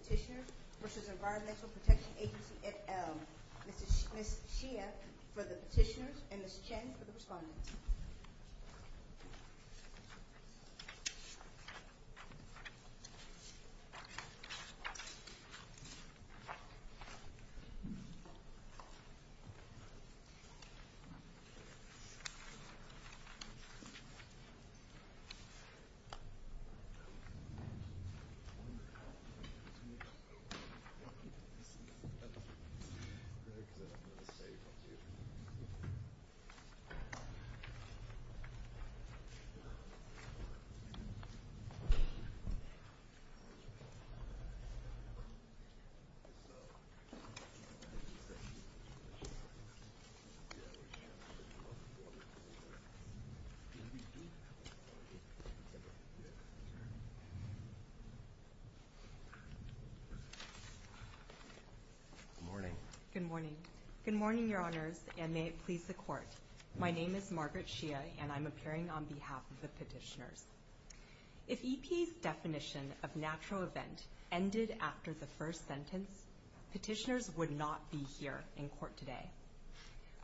Petitioners v. Environmental Protection Agency et al. Ms. Shea for the petitioners and Ms. Shea for the petitioners and Ms. Shea for the petitioners and Ms. Shea for the petitioners and Ms. Good morning. Good morning. Good morning your honors and may it please the court. My name is Margaret Shea and I'm appearing on behalf of petitioners. If EPA's definition of natural event ended after the first sentence, petitioners would not be here in court today.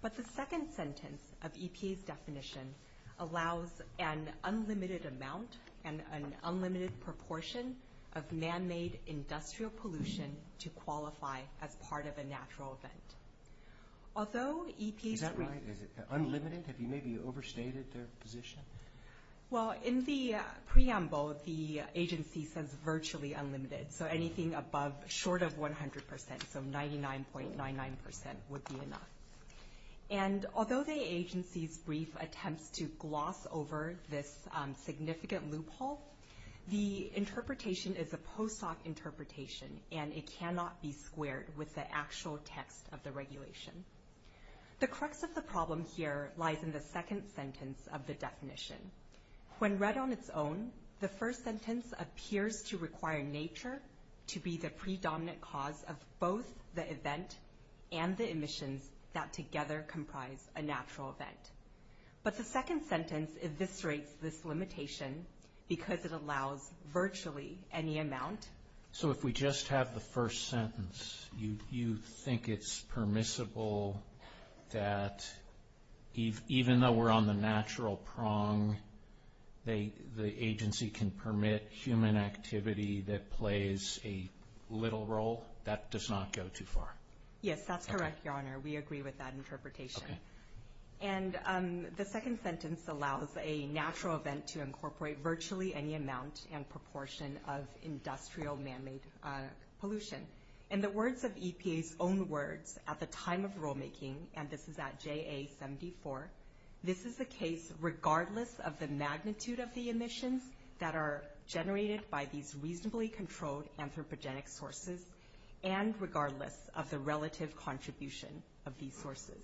But the second sentence of EPA's definition allows an unlimited amount and an unlimited proportion of man-made industrial pollution to qualify as part of a natural event. Is that right? Unlimited? Have you maybe overstated their position? Well, in the preamble, the agency says virtually unlimited. So anything short of 100%, so 99.99% would be enough. And although the agency's brief attempts to gloss over this significant loophole, the interpretation is a post-hoc interpretation and it cannot be squared with the actual text of the regulation. The crux of the problem here lies in the second sentence of the definition. When read on its own, the first sentence appears to require nature to be the predominant cause of both the event and the emissions that together comprise a natural event. But the second sentence eviscerates this limitation because it allows virtually any amount. So if we just have the first sentence, you think it's permissible that even though we're on the natural prong, the agency can permit human activity that plays a little role? That does not go too far. Yes, that's correct, Your Honor. We agree with that interpretation. And the second sentence allows a natural event to incorporate virtually any amount and proportion of industrial manmade pollution. In the words of EPA's own words at the time of rulemaking, and this is at JA-74, this is the case regardless of the magnitude of the emissions that are generated by these reasonably controlled anthropogenic sources and regardless of the relative contribution of these sources.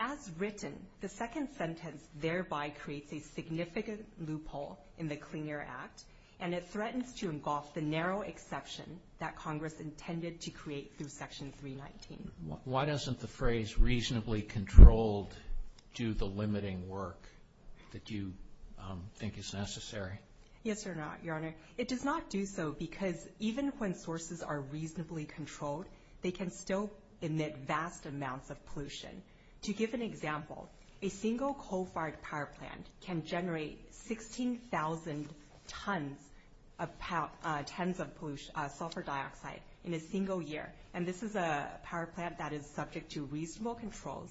As written, the second sentence thereby creates a significant loophole in the Clean Air Act and it threatens to engulf the narrow exception that Congress intended to create through Section 319. Why doesn't the phrase reasonably controlled do the limiting work that you think is necessary? Yes, Your Honor. It does not do so because even when sources are reasonably controlled, they can still emit vast amounts of pollution. To give an example, a single coal-fired power plant can generate 16,000 tons of sulfur dioxide in a single year. And this is a power plant that is subject to reasonable controls.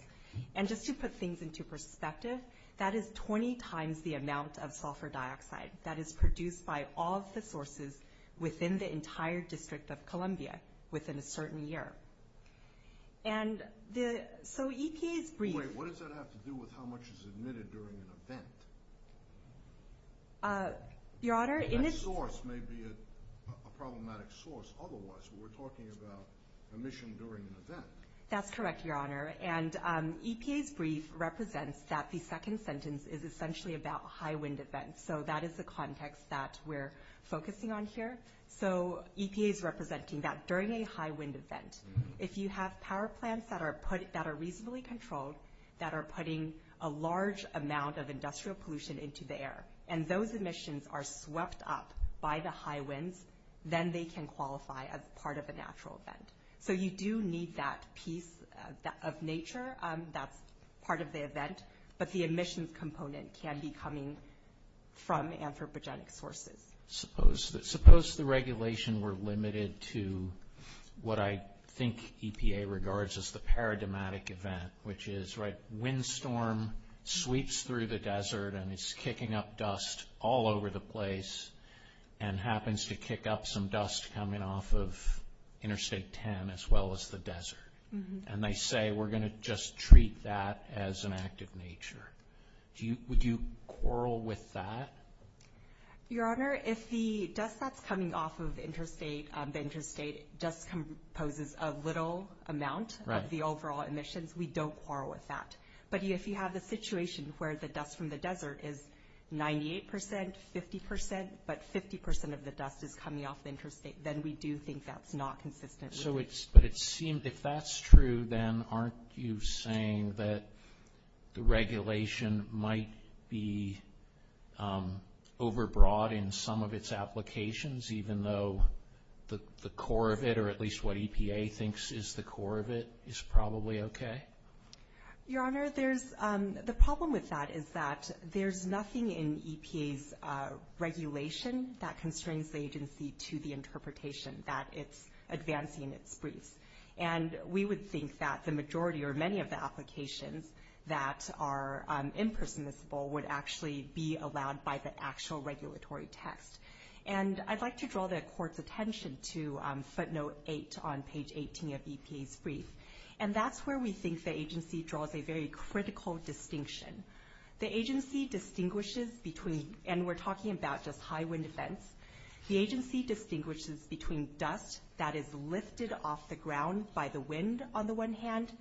And just to put things into perspective, that is 20 times the amount of sulfur dioxide that is produced by all of the sources within the entire District of Columbia within a certain year. And so EPA's brief... Wait, what does that have to do with how much is emitted during an event? Your Honor... That source may be a problematic source. Otherwise, we're talking about emission during an event. That's correct, Your Honor. And EPA's brief represents that the second sentence is essentially about high wind events. So that is the context that we're focusing on here. So EPA is representing that during a high wind event, if you have power plants that are reasonably controlled, that are putting a large amount of industrial pollution into the air, and those emissions are swept up by the high winds, then they can qualify as part of a natural event. So you do need that piece of nature that's part of the event, but the emissions component can be coming from anthropogenic sources. Suppose the regulation were limited to what I think EPA regards as the paradigmatic event, which is, right, windstorm sweeps through the desert and it's kicking up dust all over the place and happens to kick up some dust coming off of Interstate 10 as well as the desert. And they say, we're going to just treat that as an act of nature. Would you quarrel with that? Your Honor, if the dust that's coming off of the interstate just composes a little amount of the overall emissions, we don't quarrel with that. But if you have the situation where the dust from the desert is 98%, 50%, but 50% of the dust is coming off the interstate, then we do think that's not consistent. But if that's true, then aren't you saying that the regulation might be overbroad in some of its applications, even though the core of it, or at least what EPA thinks is the core of it, is probably okay? Your Honor, the problem with that is that there's nothing in EPA's regulation that constrains the agency to the interpretation that it's advancing its briefs. And we would think that the majority or many of the applications that are impermissible would actually be allowed by the actual regulatory text. And I'd like to draw the Court's attention to footnote 8 on page 18 of EPA's brief. And that's where we think the agency draws a very critical distinction. The agency distinguishes between, and we're talking about just high wind events, the agency distinguishes between dust that is lifted off the ground by the wind, on the one hand,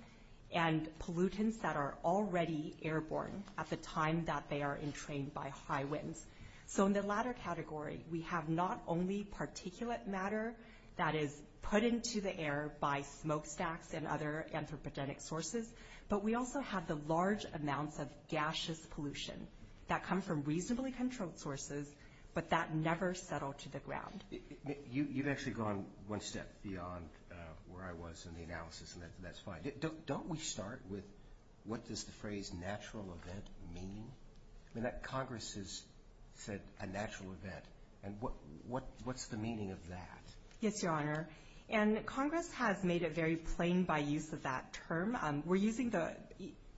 and pollutants that are already airborne at the time that they are entrained by high winds. So in the latter category, we have not only particulate matter that is put into the air by smokestacks and other anthropogenic sources, but we also have the large amounts of gaseous pollution that come from reasonably controlled sources, but that never settle to the ground. You've actually gone one step beyond where I was in the analysis, and that's fine. Don't we start with what does the phrase natural event mean? I mean, Congress has said a natural event, and what's the meaning of that? Yes, Your Honor, and Congress has made it very plain by use of that term.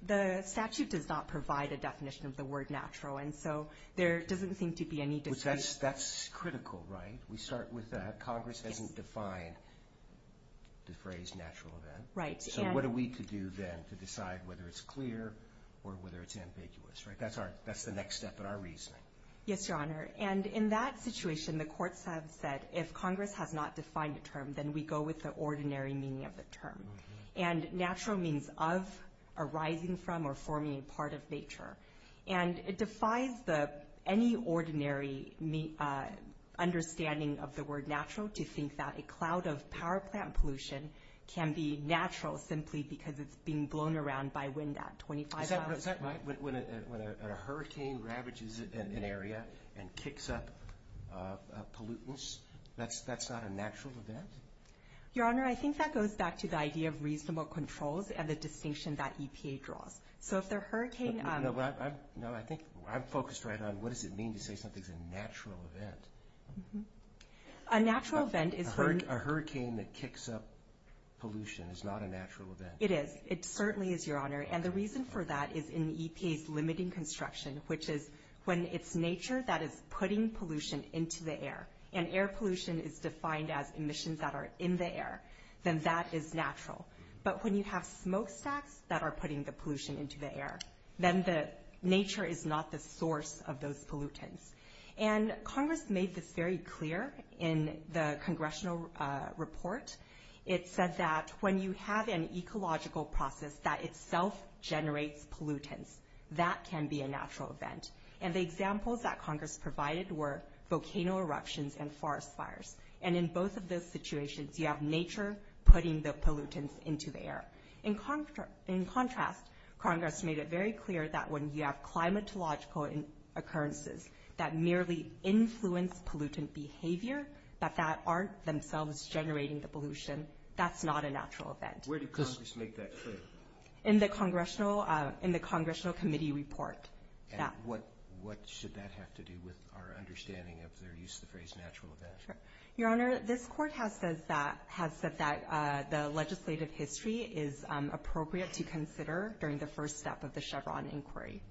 The statute does not provide a definition of the word natural, and so there doesn't seem to be any distinction. That's critical, right? We start with that. Congress hasn't defined the phrase natural event. So what are we to do then to decide whether it's clear or whether it's ambiguous? That's the next step in our reasoning. Yes, Your Honor, and in that situation, the courts have said if Congress has not defined the term, then we go with the ordinary meaning of the term. And natural means of, arising from, or forming part of nature. And it defies any ordinary understanding of the word natural to think that a cloud of power plant pollution can be natural simply because it's being blown around by wind at 25 miles per hour. Is that right? When a hurricane ravages an area and kicks up pollutants, that's not a natural event? Your Honor, I think that goes back to the idea of reasonable controls and the distinction that EPA draws. So if the hurricane... No, I think I'm focused right on what does it mean to say something's a natural event. A natural event is... A hurricane that kicks up pollution is not a natural event. It is. It certainly is, Your Honor. And the reason for that is in EPA's limiting construction, which is when it's nature that is putting pollution into the air. And air pollution is defined as emissions that are in the air, then that is natural. But when you have smokestacks that are putting the pollution into the air, then nature is not the source of those pollutants. And Congress made this very clear in the congressional report. It said that when you have an ecological process that itself generates pollutants, that can be a natural event. And the examples that Congress provided were volcano eruptions and forest fires. And in both of those situations, you have nature putting the pollutants into the air. In contrast, Congress made it very clear that when you have climatological occurrences that merely influence pollutant behavior, that that aren't themselves generating the pollution, that's not a natural event. Where did Congress make that clear? In the congressional committee report. And what should that have to do with our understanding of their use of the phrase natural event? Your Honor, this court has said that the legislative history is appropriate to consider during the first step of the Chevron inquiry.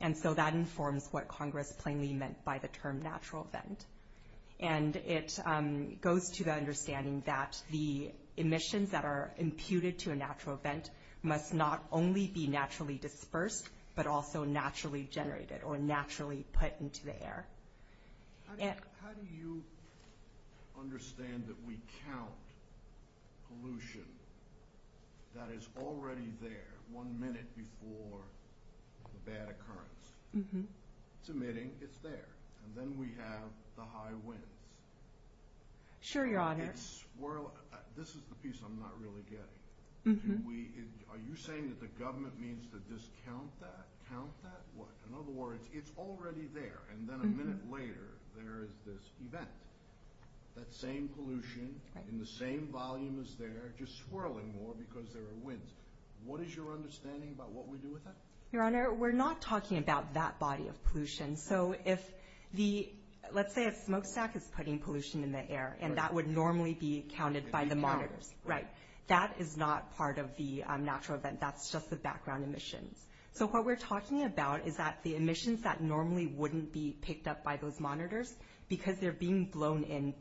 And so that informs what Congress plainly meant by the term natural event. And it goes to the understanding that the emissions that are imputed to a natural event must not only be naturally dispersed, but also naturally generated or naturally put into the air. How do you understand that we count pollution that is already there one minute before the bad occurrence? It's emitting, it's there. And then we have the high winds. Sure, Your Honor. This is the piece I'm not really getting. Are you saying that the government means to discount that, count that? In other words, it's already there. And then a minute later, there is this event. That same pollution in the same volume as there, just swirling more because there are winds. What is your understanding about what we do with that? Your Honor, we're not talking about that body of pollution. So let's say a smokestack is putting pollution in the air, and that would normally be counted by the monitors. That is not part of the natural event. That's just the background emissions. So what we're talking about is that the emissions that normally wouldn't be picked up by those monitors because they're being blown in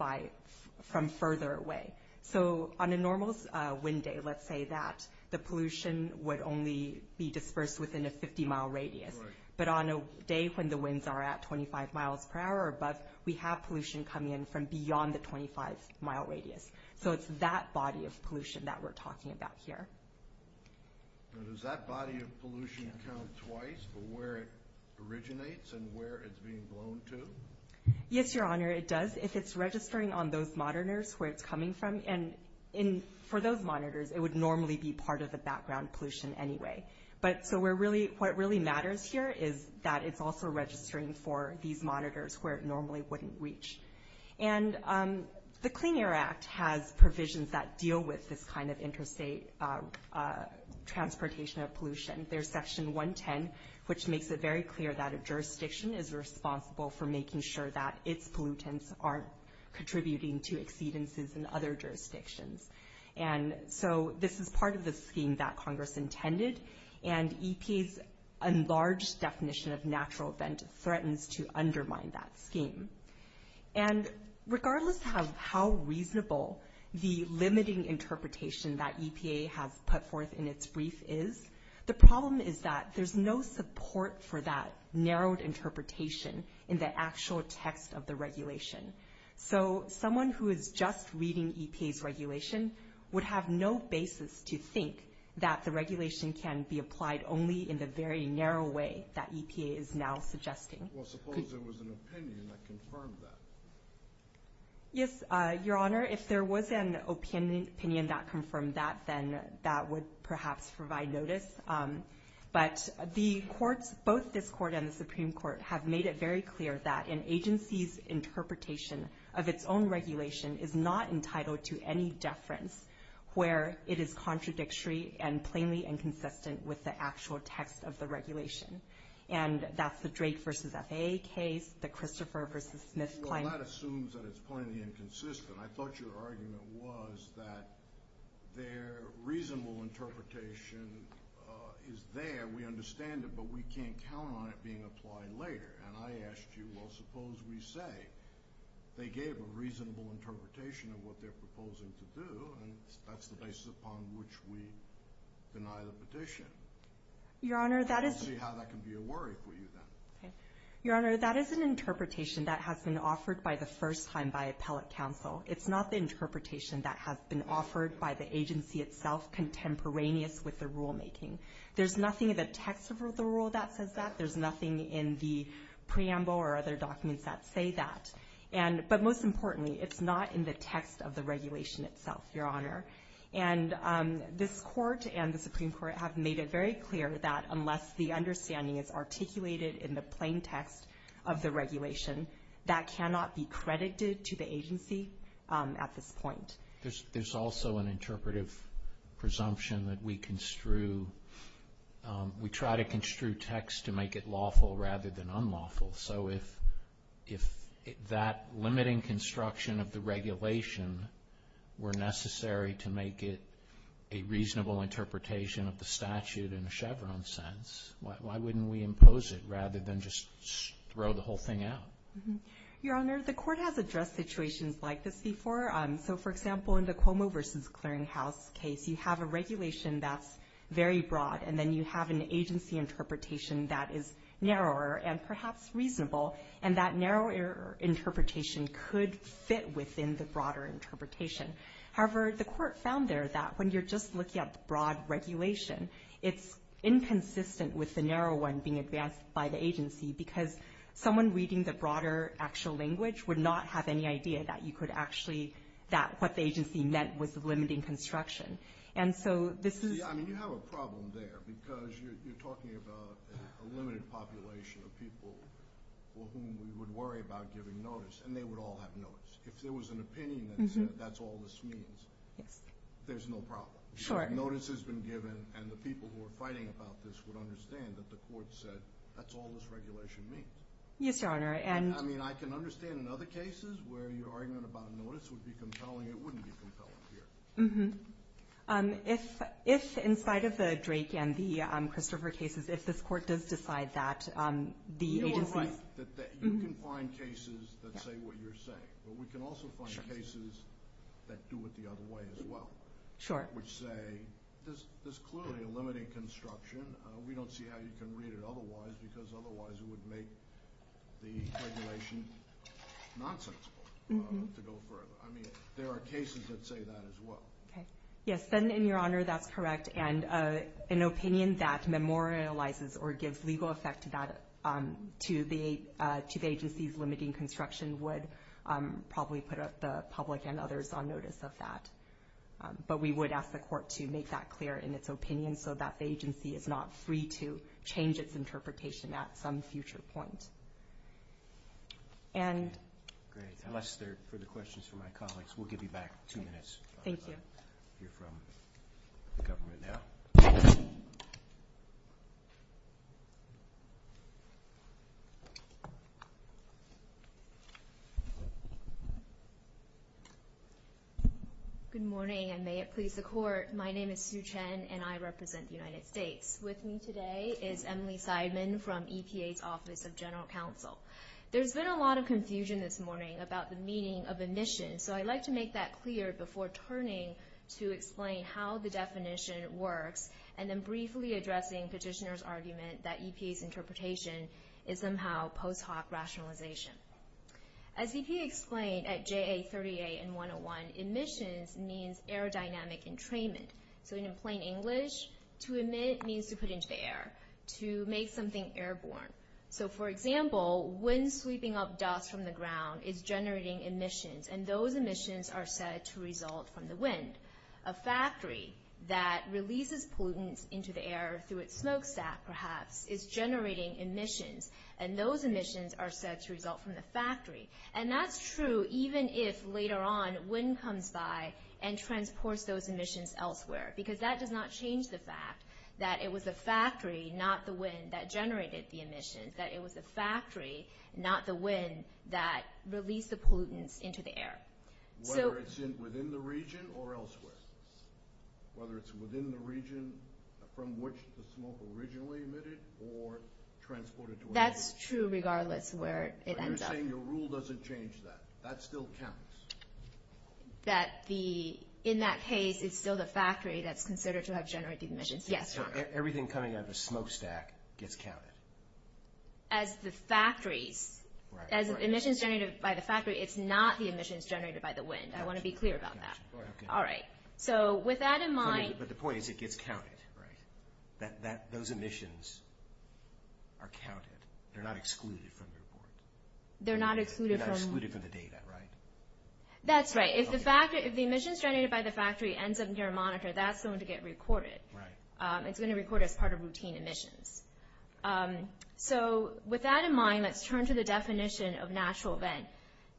from further away. So on a normal wind day, let's say that the pollution would only be dispersed within a 50-mile radius. But on a day when the winds are at 25 miles per hour or above, we have pollution coming in from beyond the 25-mile radius. So it's that body of pollution that we're talking about here. Now, does that body of pollution count twice for where it originates and where it's being blown to? Yes, Your Honor, it does if it's registering on those monitors where it's coming from. And for those monitors, it would normally be part of the background pollution anyway. But so what really matters here is that it's also registering for these monitors where it normally wouldn't reach. And the Clean Air Act has provisions that deal with this kind of interstate transportation of pollution. There's Section 110, which makes it very clear that a jurisdiction is responsible for making sure that its pollutants aren't contributing to exceedances in other jurisdictions. And so this is part of the scheme that Congress intended. And EPA's enlarged definition of natural event threatens to undermine that scheme. And regardless of how reasonable the limiting interpretation that EPA has put forth in its brief is, the problem is that there's no support for that narrowed interpretation in the actual text of the regulation. So someone who is just reading EPA's regulation would have no basis to think that the regulation can be applied only in the very narrow way that EPA is now suggesting. Well, suppose there was an opinion that confirmed that. Yes, Your Honor, if there was an opinion that confirmed that, then that would perhaps provide notice. But both this Court and the Supreme Court have made it very clear that an agency's interpretation of its own regulation is not entitled to any deference where it is contradictory and plainly inconsistent with the actual text of the regulation. And that's the Drake v. FAA case, the Christopher v. Smith claim. Well, that assumes that it's plainly inconsistent. I thought your argument was that their reasonable interpretation is there. We understand it, but we can't count on it being applied later. And I asked you, well, suppose we say they gave a reasonable interpretation of what they're proposing to do, and that's the basis upon which we deny the petition. Let's see how that can be a worry for you then. Your Honor, that is an interpretation that has been offered by the first time by appellate counsel. It's not the interpretation that has been offered by the agency itself contemporaneous with the rulemaking. There's nothing in the text of the rule that says that. There's nothing in the preamble or other documents that say that. But most importantly, it's not in the text of the regulation itself, Your Honor. And this Court and the Supreme Court have made it very clear that unless the understanding is articulated in the plain text of the regulation, that cannot be credited to the agency at this point. There's also an interpretive presumption that we construe. We try to construe text to make it lawful rather than unlawful. So if that limiting construction of the regulation were necessary to make it a reasonable interpretation of the statute in a Chevron sense, why wouldn't we impose it rather than just throw the whole thing out? Your Honor, the Court has addressed situations like this before. So, for example, in the Cuomo v. Clearinghouse case, you have a regulation that's very broad, and then you have an agency interpretation that is narrower and perhaps reasonable, and that narrower interpretation could fit within the broader interpretation. However, the Court found there that when you're just looking at the broad regulation, it's inconsistent with the narrow one being advanced by the agency because someone reading the broader actual language would not have any idea that you could actually – that what the agency meant was limiting construction. See, I mean, you have a problem there because you're talking about a limited population of people for whom we would worry about giving notice, and they would all have notice. If there was an opinion that said that's all this means, there's no problem. Sure. Notice has been given, and the people who are fighting about this would understand that the Court said that's all this regulation means. Yes, Your Honor. I mean, I can understand in other cases where your argument about notice would be compelling. It wouldn't be compelling here. Mm-hmm. If inside of the Drake and the Christopher cases, if this Court does decide that the agency's – You are right that you can find cases that say what you're saying, but we can also find cases that do it the other way as well. Sure. Which say there's clearly a limiting construction. We don't see how you can read it otherwise because otherwise it would make the regulation nonsensical to go further. I mean, there are cases that say that as well. Okay. Yes, then, in your honor, that's correct. And an opinion that memorializes or gives legal effect to the agency's limiting construction would probably put the public and others on notice of that. But we would ask the Court to make that clear in its opinion so that the agency is not free to change its interpretation at some future point. And – Great. Unless there are further questions from my colleagues, we'll give you back two minutes. Thank you. We'll hear from the government now. Good morning, and may it please the Court. My name is Sue Chen, and I represent the United States. With me today is Emily Seidman from EPA's Office of General Counsel. There's been a lot of confusion this morning about the meaning of emissions, so I'd like to make that clear before turning to explain how the definition works and then briefly addressing Petitioner's argument that EPA's interpretation is somehow post hoc rationalization. As EPA explained at JA38 and 101, emissions means aerodynamic entrainment. So in plain English, to emit means to put into the air, to make something airborne. So, for example, wind sweeping up dust from the ground is generating emissions, and those emissions are said to result from the wind. A factory that releases pollutants into the air through its smokestack, perhaps, is generating emissions, and those emissions are said to result from the factory. And that's true even if later on wind comes by and transports those emissions elsewhere, because that does not change the fact that it was the factory, not the wind, that generated the emissions, that it was the factory, not the wind, that released the pollutants into the air. Whether it's within the region or elsewhere? Whether it's within the region from which the smoke originally emitted or transported to another region? That's true regardless where it ends up. But you're saying your rule doesn't change that? That still counts? That in that case, it's still the factory that's considered to have generated emissions. Yes, Tom. So everything coming out of the smokestack gets counted? As the factories. As the emissions generated by the factory, it's not the emissions generated by the wind. I want to be clear about that. All right. So with that in mind... But the point is it gets counted, right? Those emissions are counted. They're not excluded from the report. They're not excluded from... That's right. If the emissions generated by the factory ends up near a monitor, that's going to get recorded. Right. It's going to record as part of routine emissions. So with that in mind, let's turn to the definition of natural event.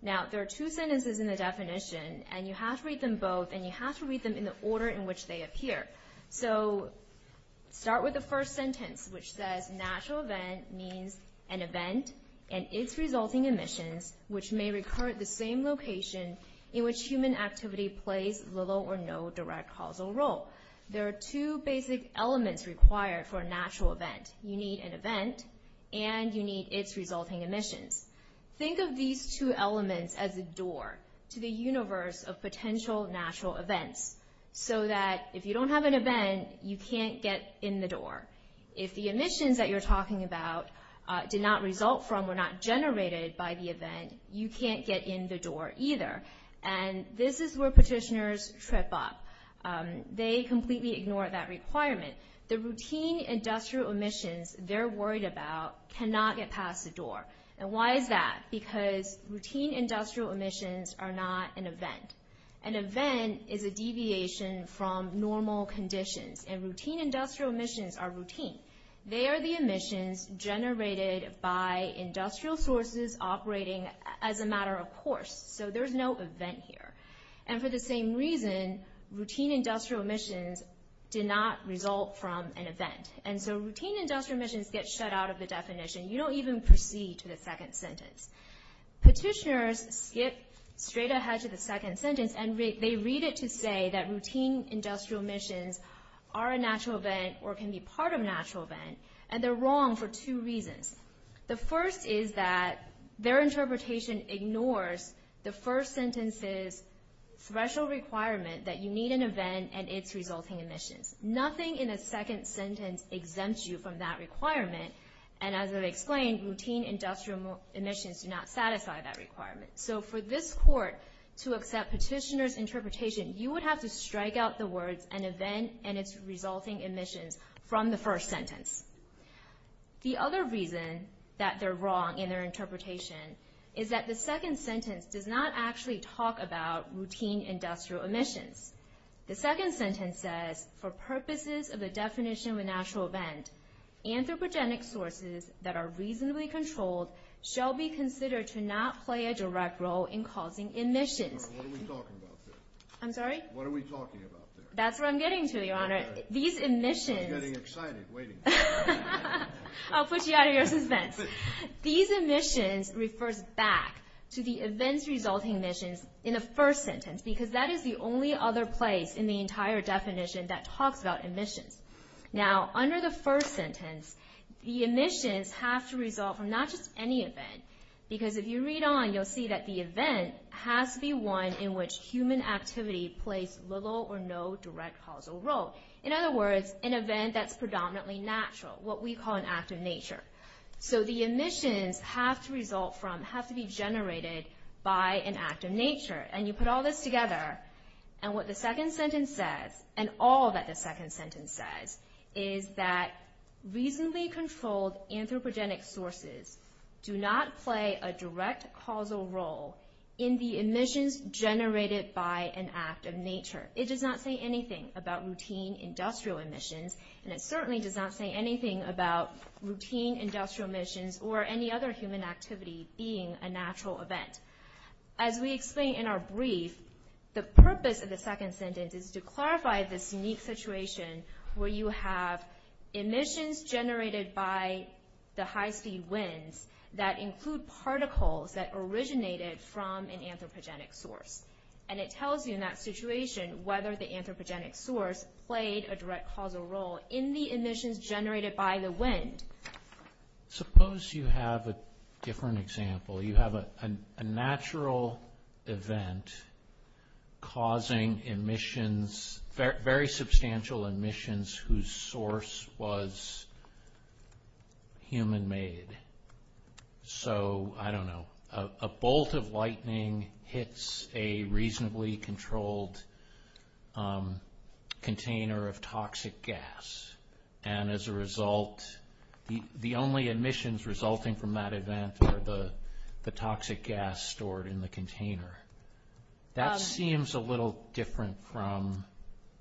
Now, there are two sentences in the definition, and you have to read them both, and you have to read them in the order in which they appear. So start with the first sentence, which says, Natural event means an event and its resulting emissions, which may recur at the same location in which human activity plays little or no direct causal role. There are two basic elements required for a natural event. You need an event, and you need its resulting emissions. Think of these two elements as a door to the universe of potential natural events, so that if you don't have an event, you can't get in the door. If the emissions that you're talking about did not result from or not generated by the event, you can't get in the door either. And this is where petitioners trip up. They completely ignore that requirement. The routine industrial emissions they're worried about cannot get past the door. And why is that? Because routine industrial emissions are not an event. An event is a deviation from normal conditions, and routine industrial emissions are routine. They are the emissions generated by industrial sources operating as a matter of course. So there's no event here. And for the same reason, routine industrial emissions did not result from an event. And so routine industrial emissions get shut out of the definition. You don't even proceed to the second sentence. Petitioners skip straight ahead to the second sentence, and they read it to say that routine industrial emissions are a natural event or can be part of a natural event, and they're wrong for two reasons. The first is that their interpretation ignores the first sentence's special requirement that you need an event and its resulting emissions. Nothing in the second sentence exempts you from that requirement, and as I've explained, routine industrial emissions do not satisfy that requirement. So for this court to accept petitioners' interpretation, you would have to strike out the words, an event and its resulting emissions from the first sentence. The other reason that they're wrong in their interpretation is that the second sentence does not actually talk about routine industrial emissions. The second sentence says, for purposes of the definition of a natural event, anthropogenic sources that are reasonably controlled shall be considered to not play a direct role in causing emissions. What are we talking about there? I'm sorry? What are we talking about there? That's what I'm getting to, Your Honor. I'm getting excited waiting. I'll push you out of your suspense. These emissions refers back to the events resulting emissions in the first sentence because that is the only other place in the entire definition that talks about emissions. Now, under the first sentence, the emissions have to result from not just any event because if you read on, you'll see that the event has to be one in which human activity plays little or no direct causal role. In other words, an event that's predominantly natural, what we call an act of nature. So the emissions have to result from, have to be generated by an act of nature. And you put all this together, and what the second sentence says, and all that the second sentence says, is that reasonably controlled anthropogenic sources do not play a direct causal role in the emissions generated by an act of nature. It does not say anything about routine industrial emissions, and it certainly does not say anything about routine industrial emissions or any other human activity being a natural event. As we explain in our brief, the purpose of the second sentence is to clarify this unique situation where you have emissions generated by the high-speed winds that include particles that originated from an anthropogenic source. And it tells you in that situation whether the anthropogenic source played a direct causal role in the emissions generated by the wind. Suppose you have a different example. You have a natural event causing emissions, very substantial emissions whose source was human-made. So, I don't know, a bolt of lightning hits a reasonably controlled container of toxic gas. And as a result, the only emissions resulting from that event are the toxic gas stored in the container. That seems a little different from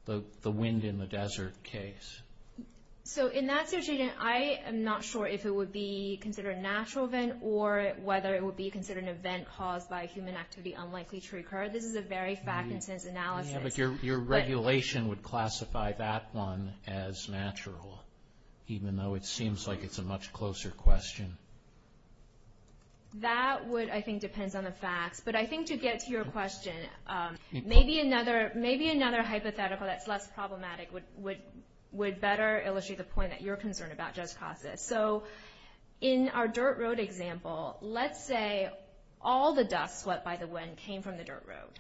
the wind in the desert case. So, in that situation, I am not sure if it would be considered a natural event or whether it would be considered an event caused by a human activity unlikely to recur. This is a very fact and sense analysis. But your regulation would classify that one as natural, even though it seems like it's a much closer question. That would, I think, depends on the facts. But I think to get to your question, maybe another hypothetical that's less problematic would better illustrate the point that you're concerned about, Jess Casas. So, in our dirt road example, let's say all the dust swept by the wind came from the dirt road.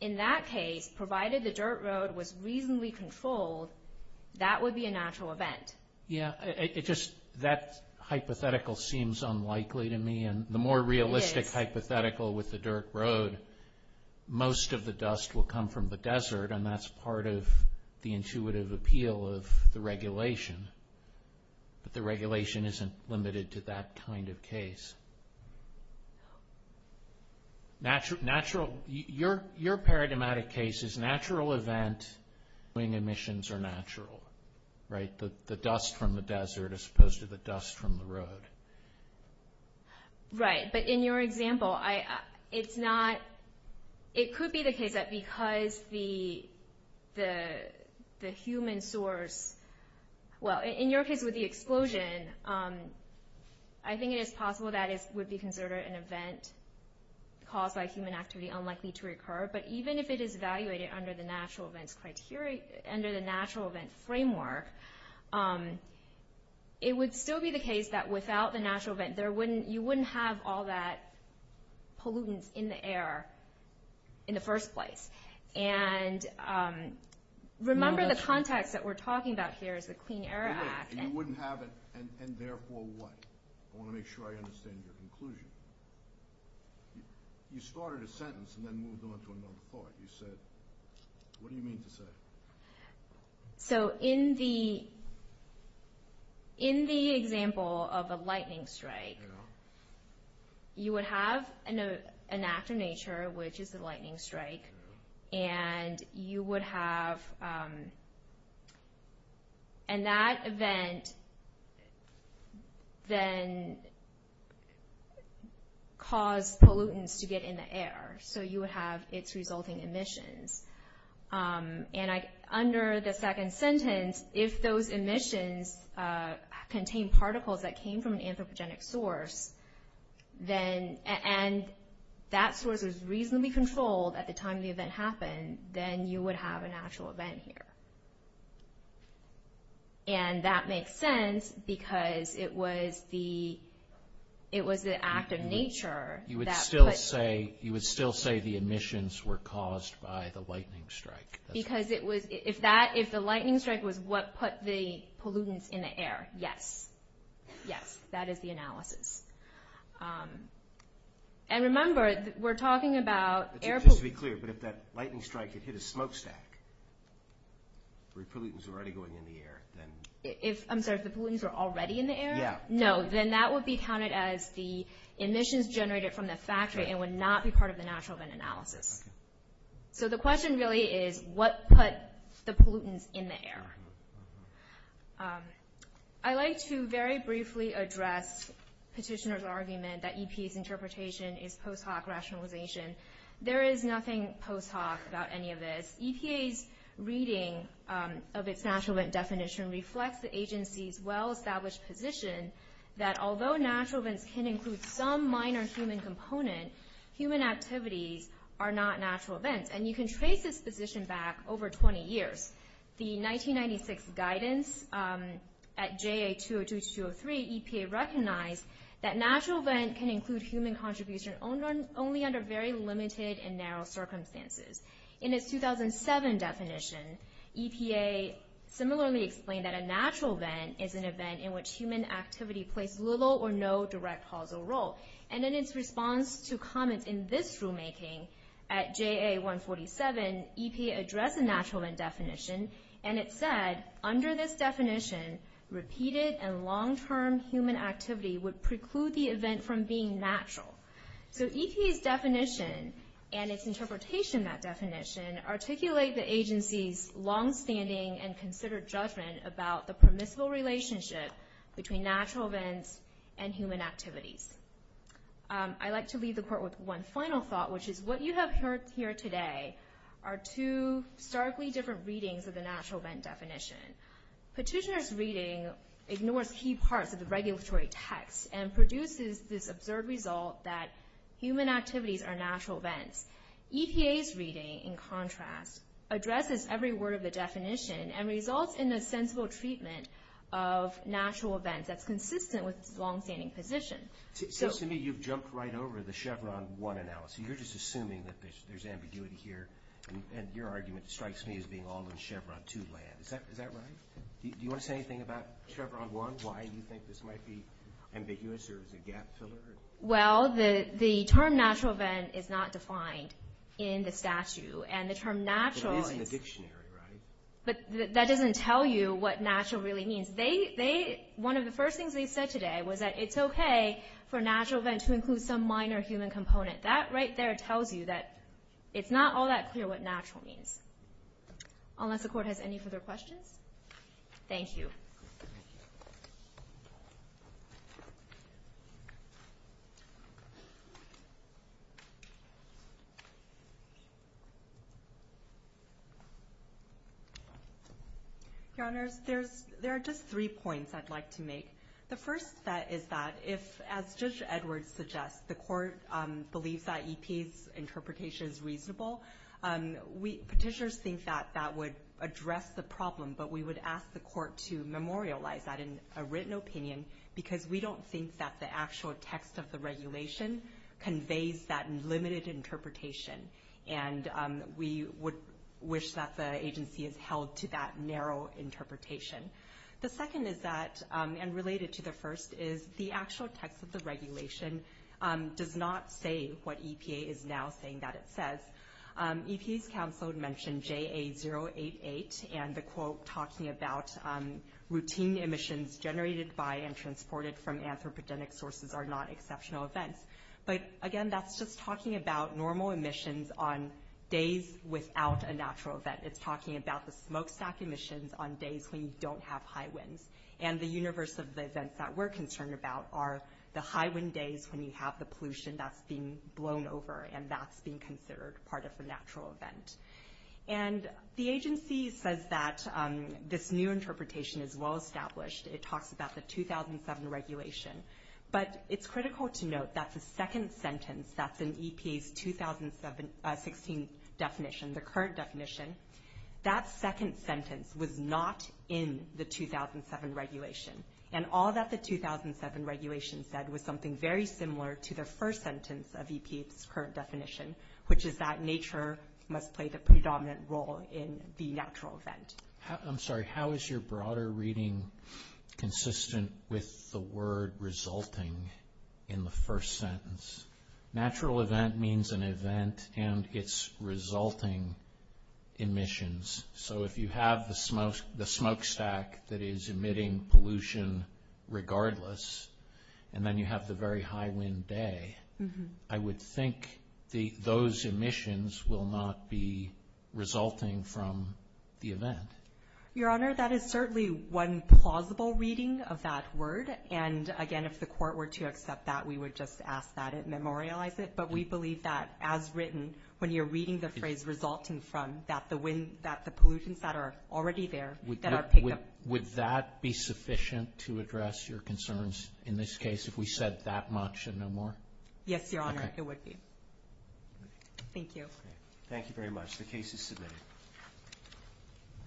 In that case, provided the dirt road was reasonably controlled, that would be a natural event. Yeah. It just, that hypothetical seems unlikely to me. It is. And the more realistic hypothetical with the dirt road, most of the dust will come from the desert, and that's part of the intuitive appeal of the regulation. But the regulation isn't limited to that kind of case. Your paradigmatic case is natural event when emissions are natural, right? The dust from the desert as opposed to the dust from the road. Right. But in your example, it's not, it could be the case that because the human source, well, in your case with the explosion, I think it is possible that it would be considered an event caused by human activity unlikely to recur. But even if it is evaluated under the natural event framework, it would still be the case that without the natural event, you wouldn't have all that pollutants in the air in the first place. And remember the context that we're talking about here is the Clean Air Act. You wouldn't have it, and therefore what? I want to make sure I understand your conclusion. You started a sentence and then moved on to another part. You said, what do you mean to say? So in the example of a lightning strike, you would have an act of nature, which is the lightning strike, and you would have, and that event then caused pollutants to get in the air. So you would have its resulting emissions. And under the second sentence, if those emissions contain particles that came from an anthropogenic source, and that source was reasonably controlled at the time the event happened, then you would have a natural event here. And that makes sense because it was the act of nature. You would still say the emissions were caused by the lightning strike. Because if the lightning strike was what put the pollutants in the air, yes. Yes, that is the analysis. And remember, we're talking about air pollutants. Just to be clear, but if that lightning strike had hit a smokestack, were pollutants already going in the air, then? I'm sorry, if the pollutants were already in the air? Yeah. No, then that would be counted as the emissions generated from the factory and would not be part of the natural event analysis. So the question really is, what put the pollutants in the air? I'd like to very briefly address Petitioner's argument that EPA's interpretation is post hoc rationalization. There is nothing post hoc about any of this. EPA's reading of its natural event definition reflects the agency's well-established position that although natural events can include some minor human component, human activities are not natural events. And you can trace this position back over 20 years. The 1996 guidance at JA202-203, EPA recognized that natural event can include human contribution only under very limited and narrow circumstances. In its 2007 definition, EPA similarly explained that a natural event is an event in which human activity plays little or no direct causal role. And in its response to comments in this rulemaking at JA147, EPA addressed the natural event definition, and it said, under this definition, repeated and long-term human activity would preclude the event from being natural. So EPA's definition and its interpretation of that definition articulate the agency's longstanding and considered judgment about the permissible relationship between natural events and human activities. I'd like to leave the court with one final thought, which is what you have heard here today are two starkly different readings of the natural event definition. Petitioner's reading ignores key parts of the regulatory text and produces this absurd result that human activities are natural events. EPA's reading, in contrast, addresses every word of the definition and results in a sensible treatment of natural events that's consistent with its longstanding position. To me, you've jumped right over the Chevron 1 analysis. You're just assuming that there's ambiguity here, and your argument strikes me as being all in Chevron 2 land. Is that right? Do you want to say anything about Chevron 1, why you think this might be ambiguous, or is it a gap filler? Well, the term natural event is not defined in the statute, and the term natural is— But it is in the dictionary, right? But that doesn't tell you what natural really means. One of the first things they said today was that it's okay for a natural event to include some minor human component. That right there tells you that it's not all that clear what natural means. Unless the court has any further questions? Thank you. Thank you. Your Honors, there are just three points I'd like to make. The first is that if, as Judge Edwards suggests, the court believes that EPA's interpretation is reasonable, petitioners think that that would address the problem, but we would ask the court to memorialize that in a written opinion because we don't think that the actual text of the regulation conveys that limited interpretation, and we would wish that the agency is held to that narrow interpretation. The second is that, and related to the first, is the actual text of the regulation does not say what EPA is now saying that it says. EPA's counsel had mentioned JA088 and the quote talking about routine emissions generated by and transported from anthropogenic sources are not exceptional events. But again, that's just talking about normal emissions on days without a natural event. It's talking about the smokestack emissions on days when you don't have high winds. And the universe of the events that we're concerned about are the high wind days when you have the pollution that's being blown over and that's being considered part of the natural event. And the agency says that this new interpretation is well established. It talks about the 2007 regulation. But it's critical to note that the second sentence, that's in EPA's 2016 definition, the current definition, that second sentence was not in the 2007 regulation. And all that the 2007 regulation said was something very similar to the first sentence of EPA's current definition, which is that nature must play the predominant role in the natural event. I'm sorry, how is your broader reading consistent with the word resulting in the first sentence? Natural event means an event and its resulting emissions. So if you have the smokestack that is emitting pollution regardless, and then you have the very high wind day, I would think those emissions will not be resulting from the event. Your Honor, that is certainly one plausible reading of that word. And, again, if the court were to accept that, we would just ask that it memorialize it. But we believe that as written, when you're reading the phrase resulting from, that the pollutions that are already there, that are picked up. Would that be sufficient to address your concerns in this case, if we said that much and no more? Yes, Your Honor, it would be. Thank you. Thank you very much. The case is submitted.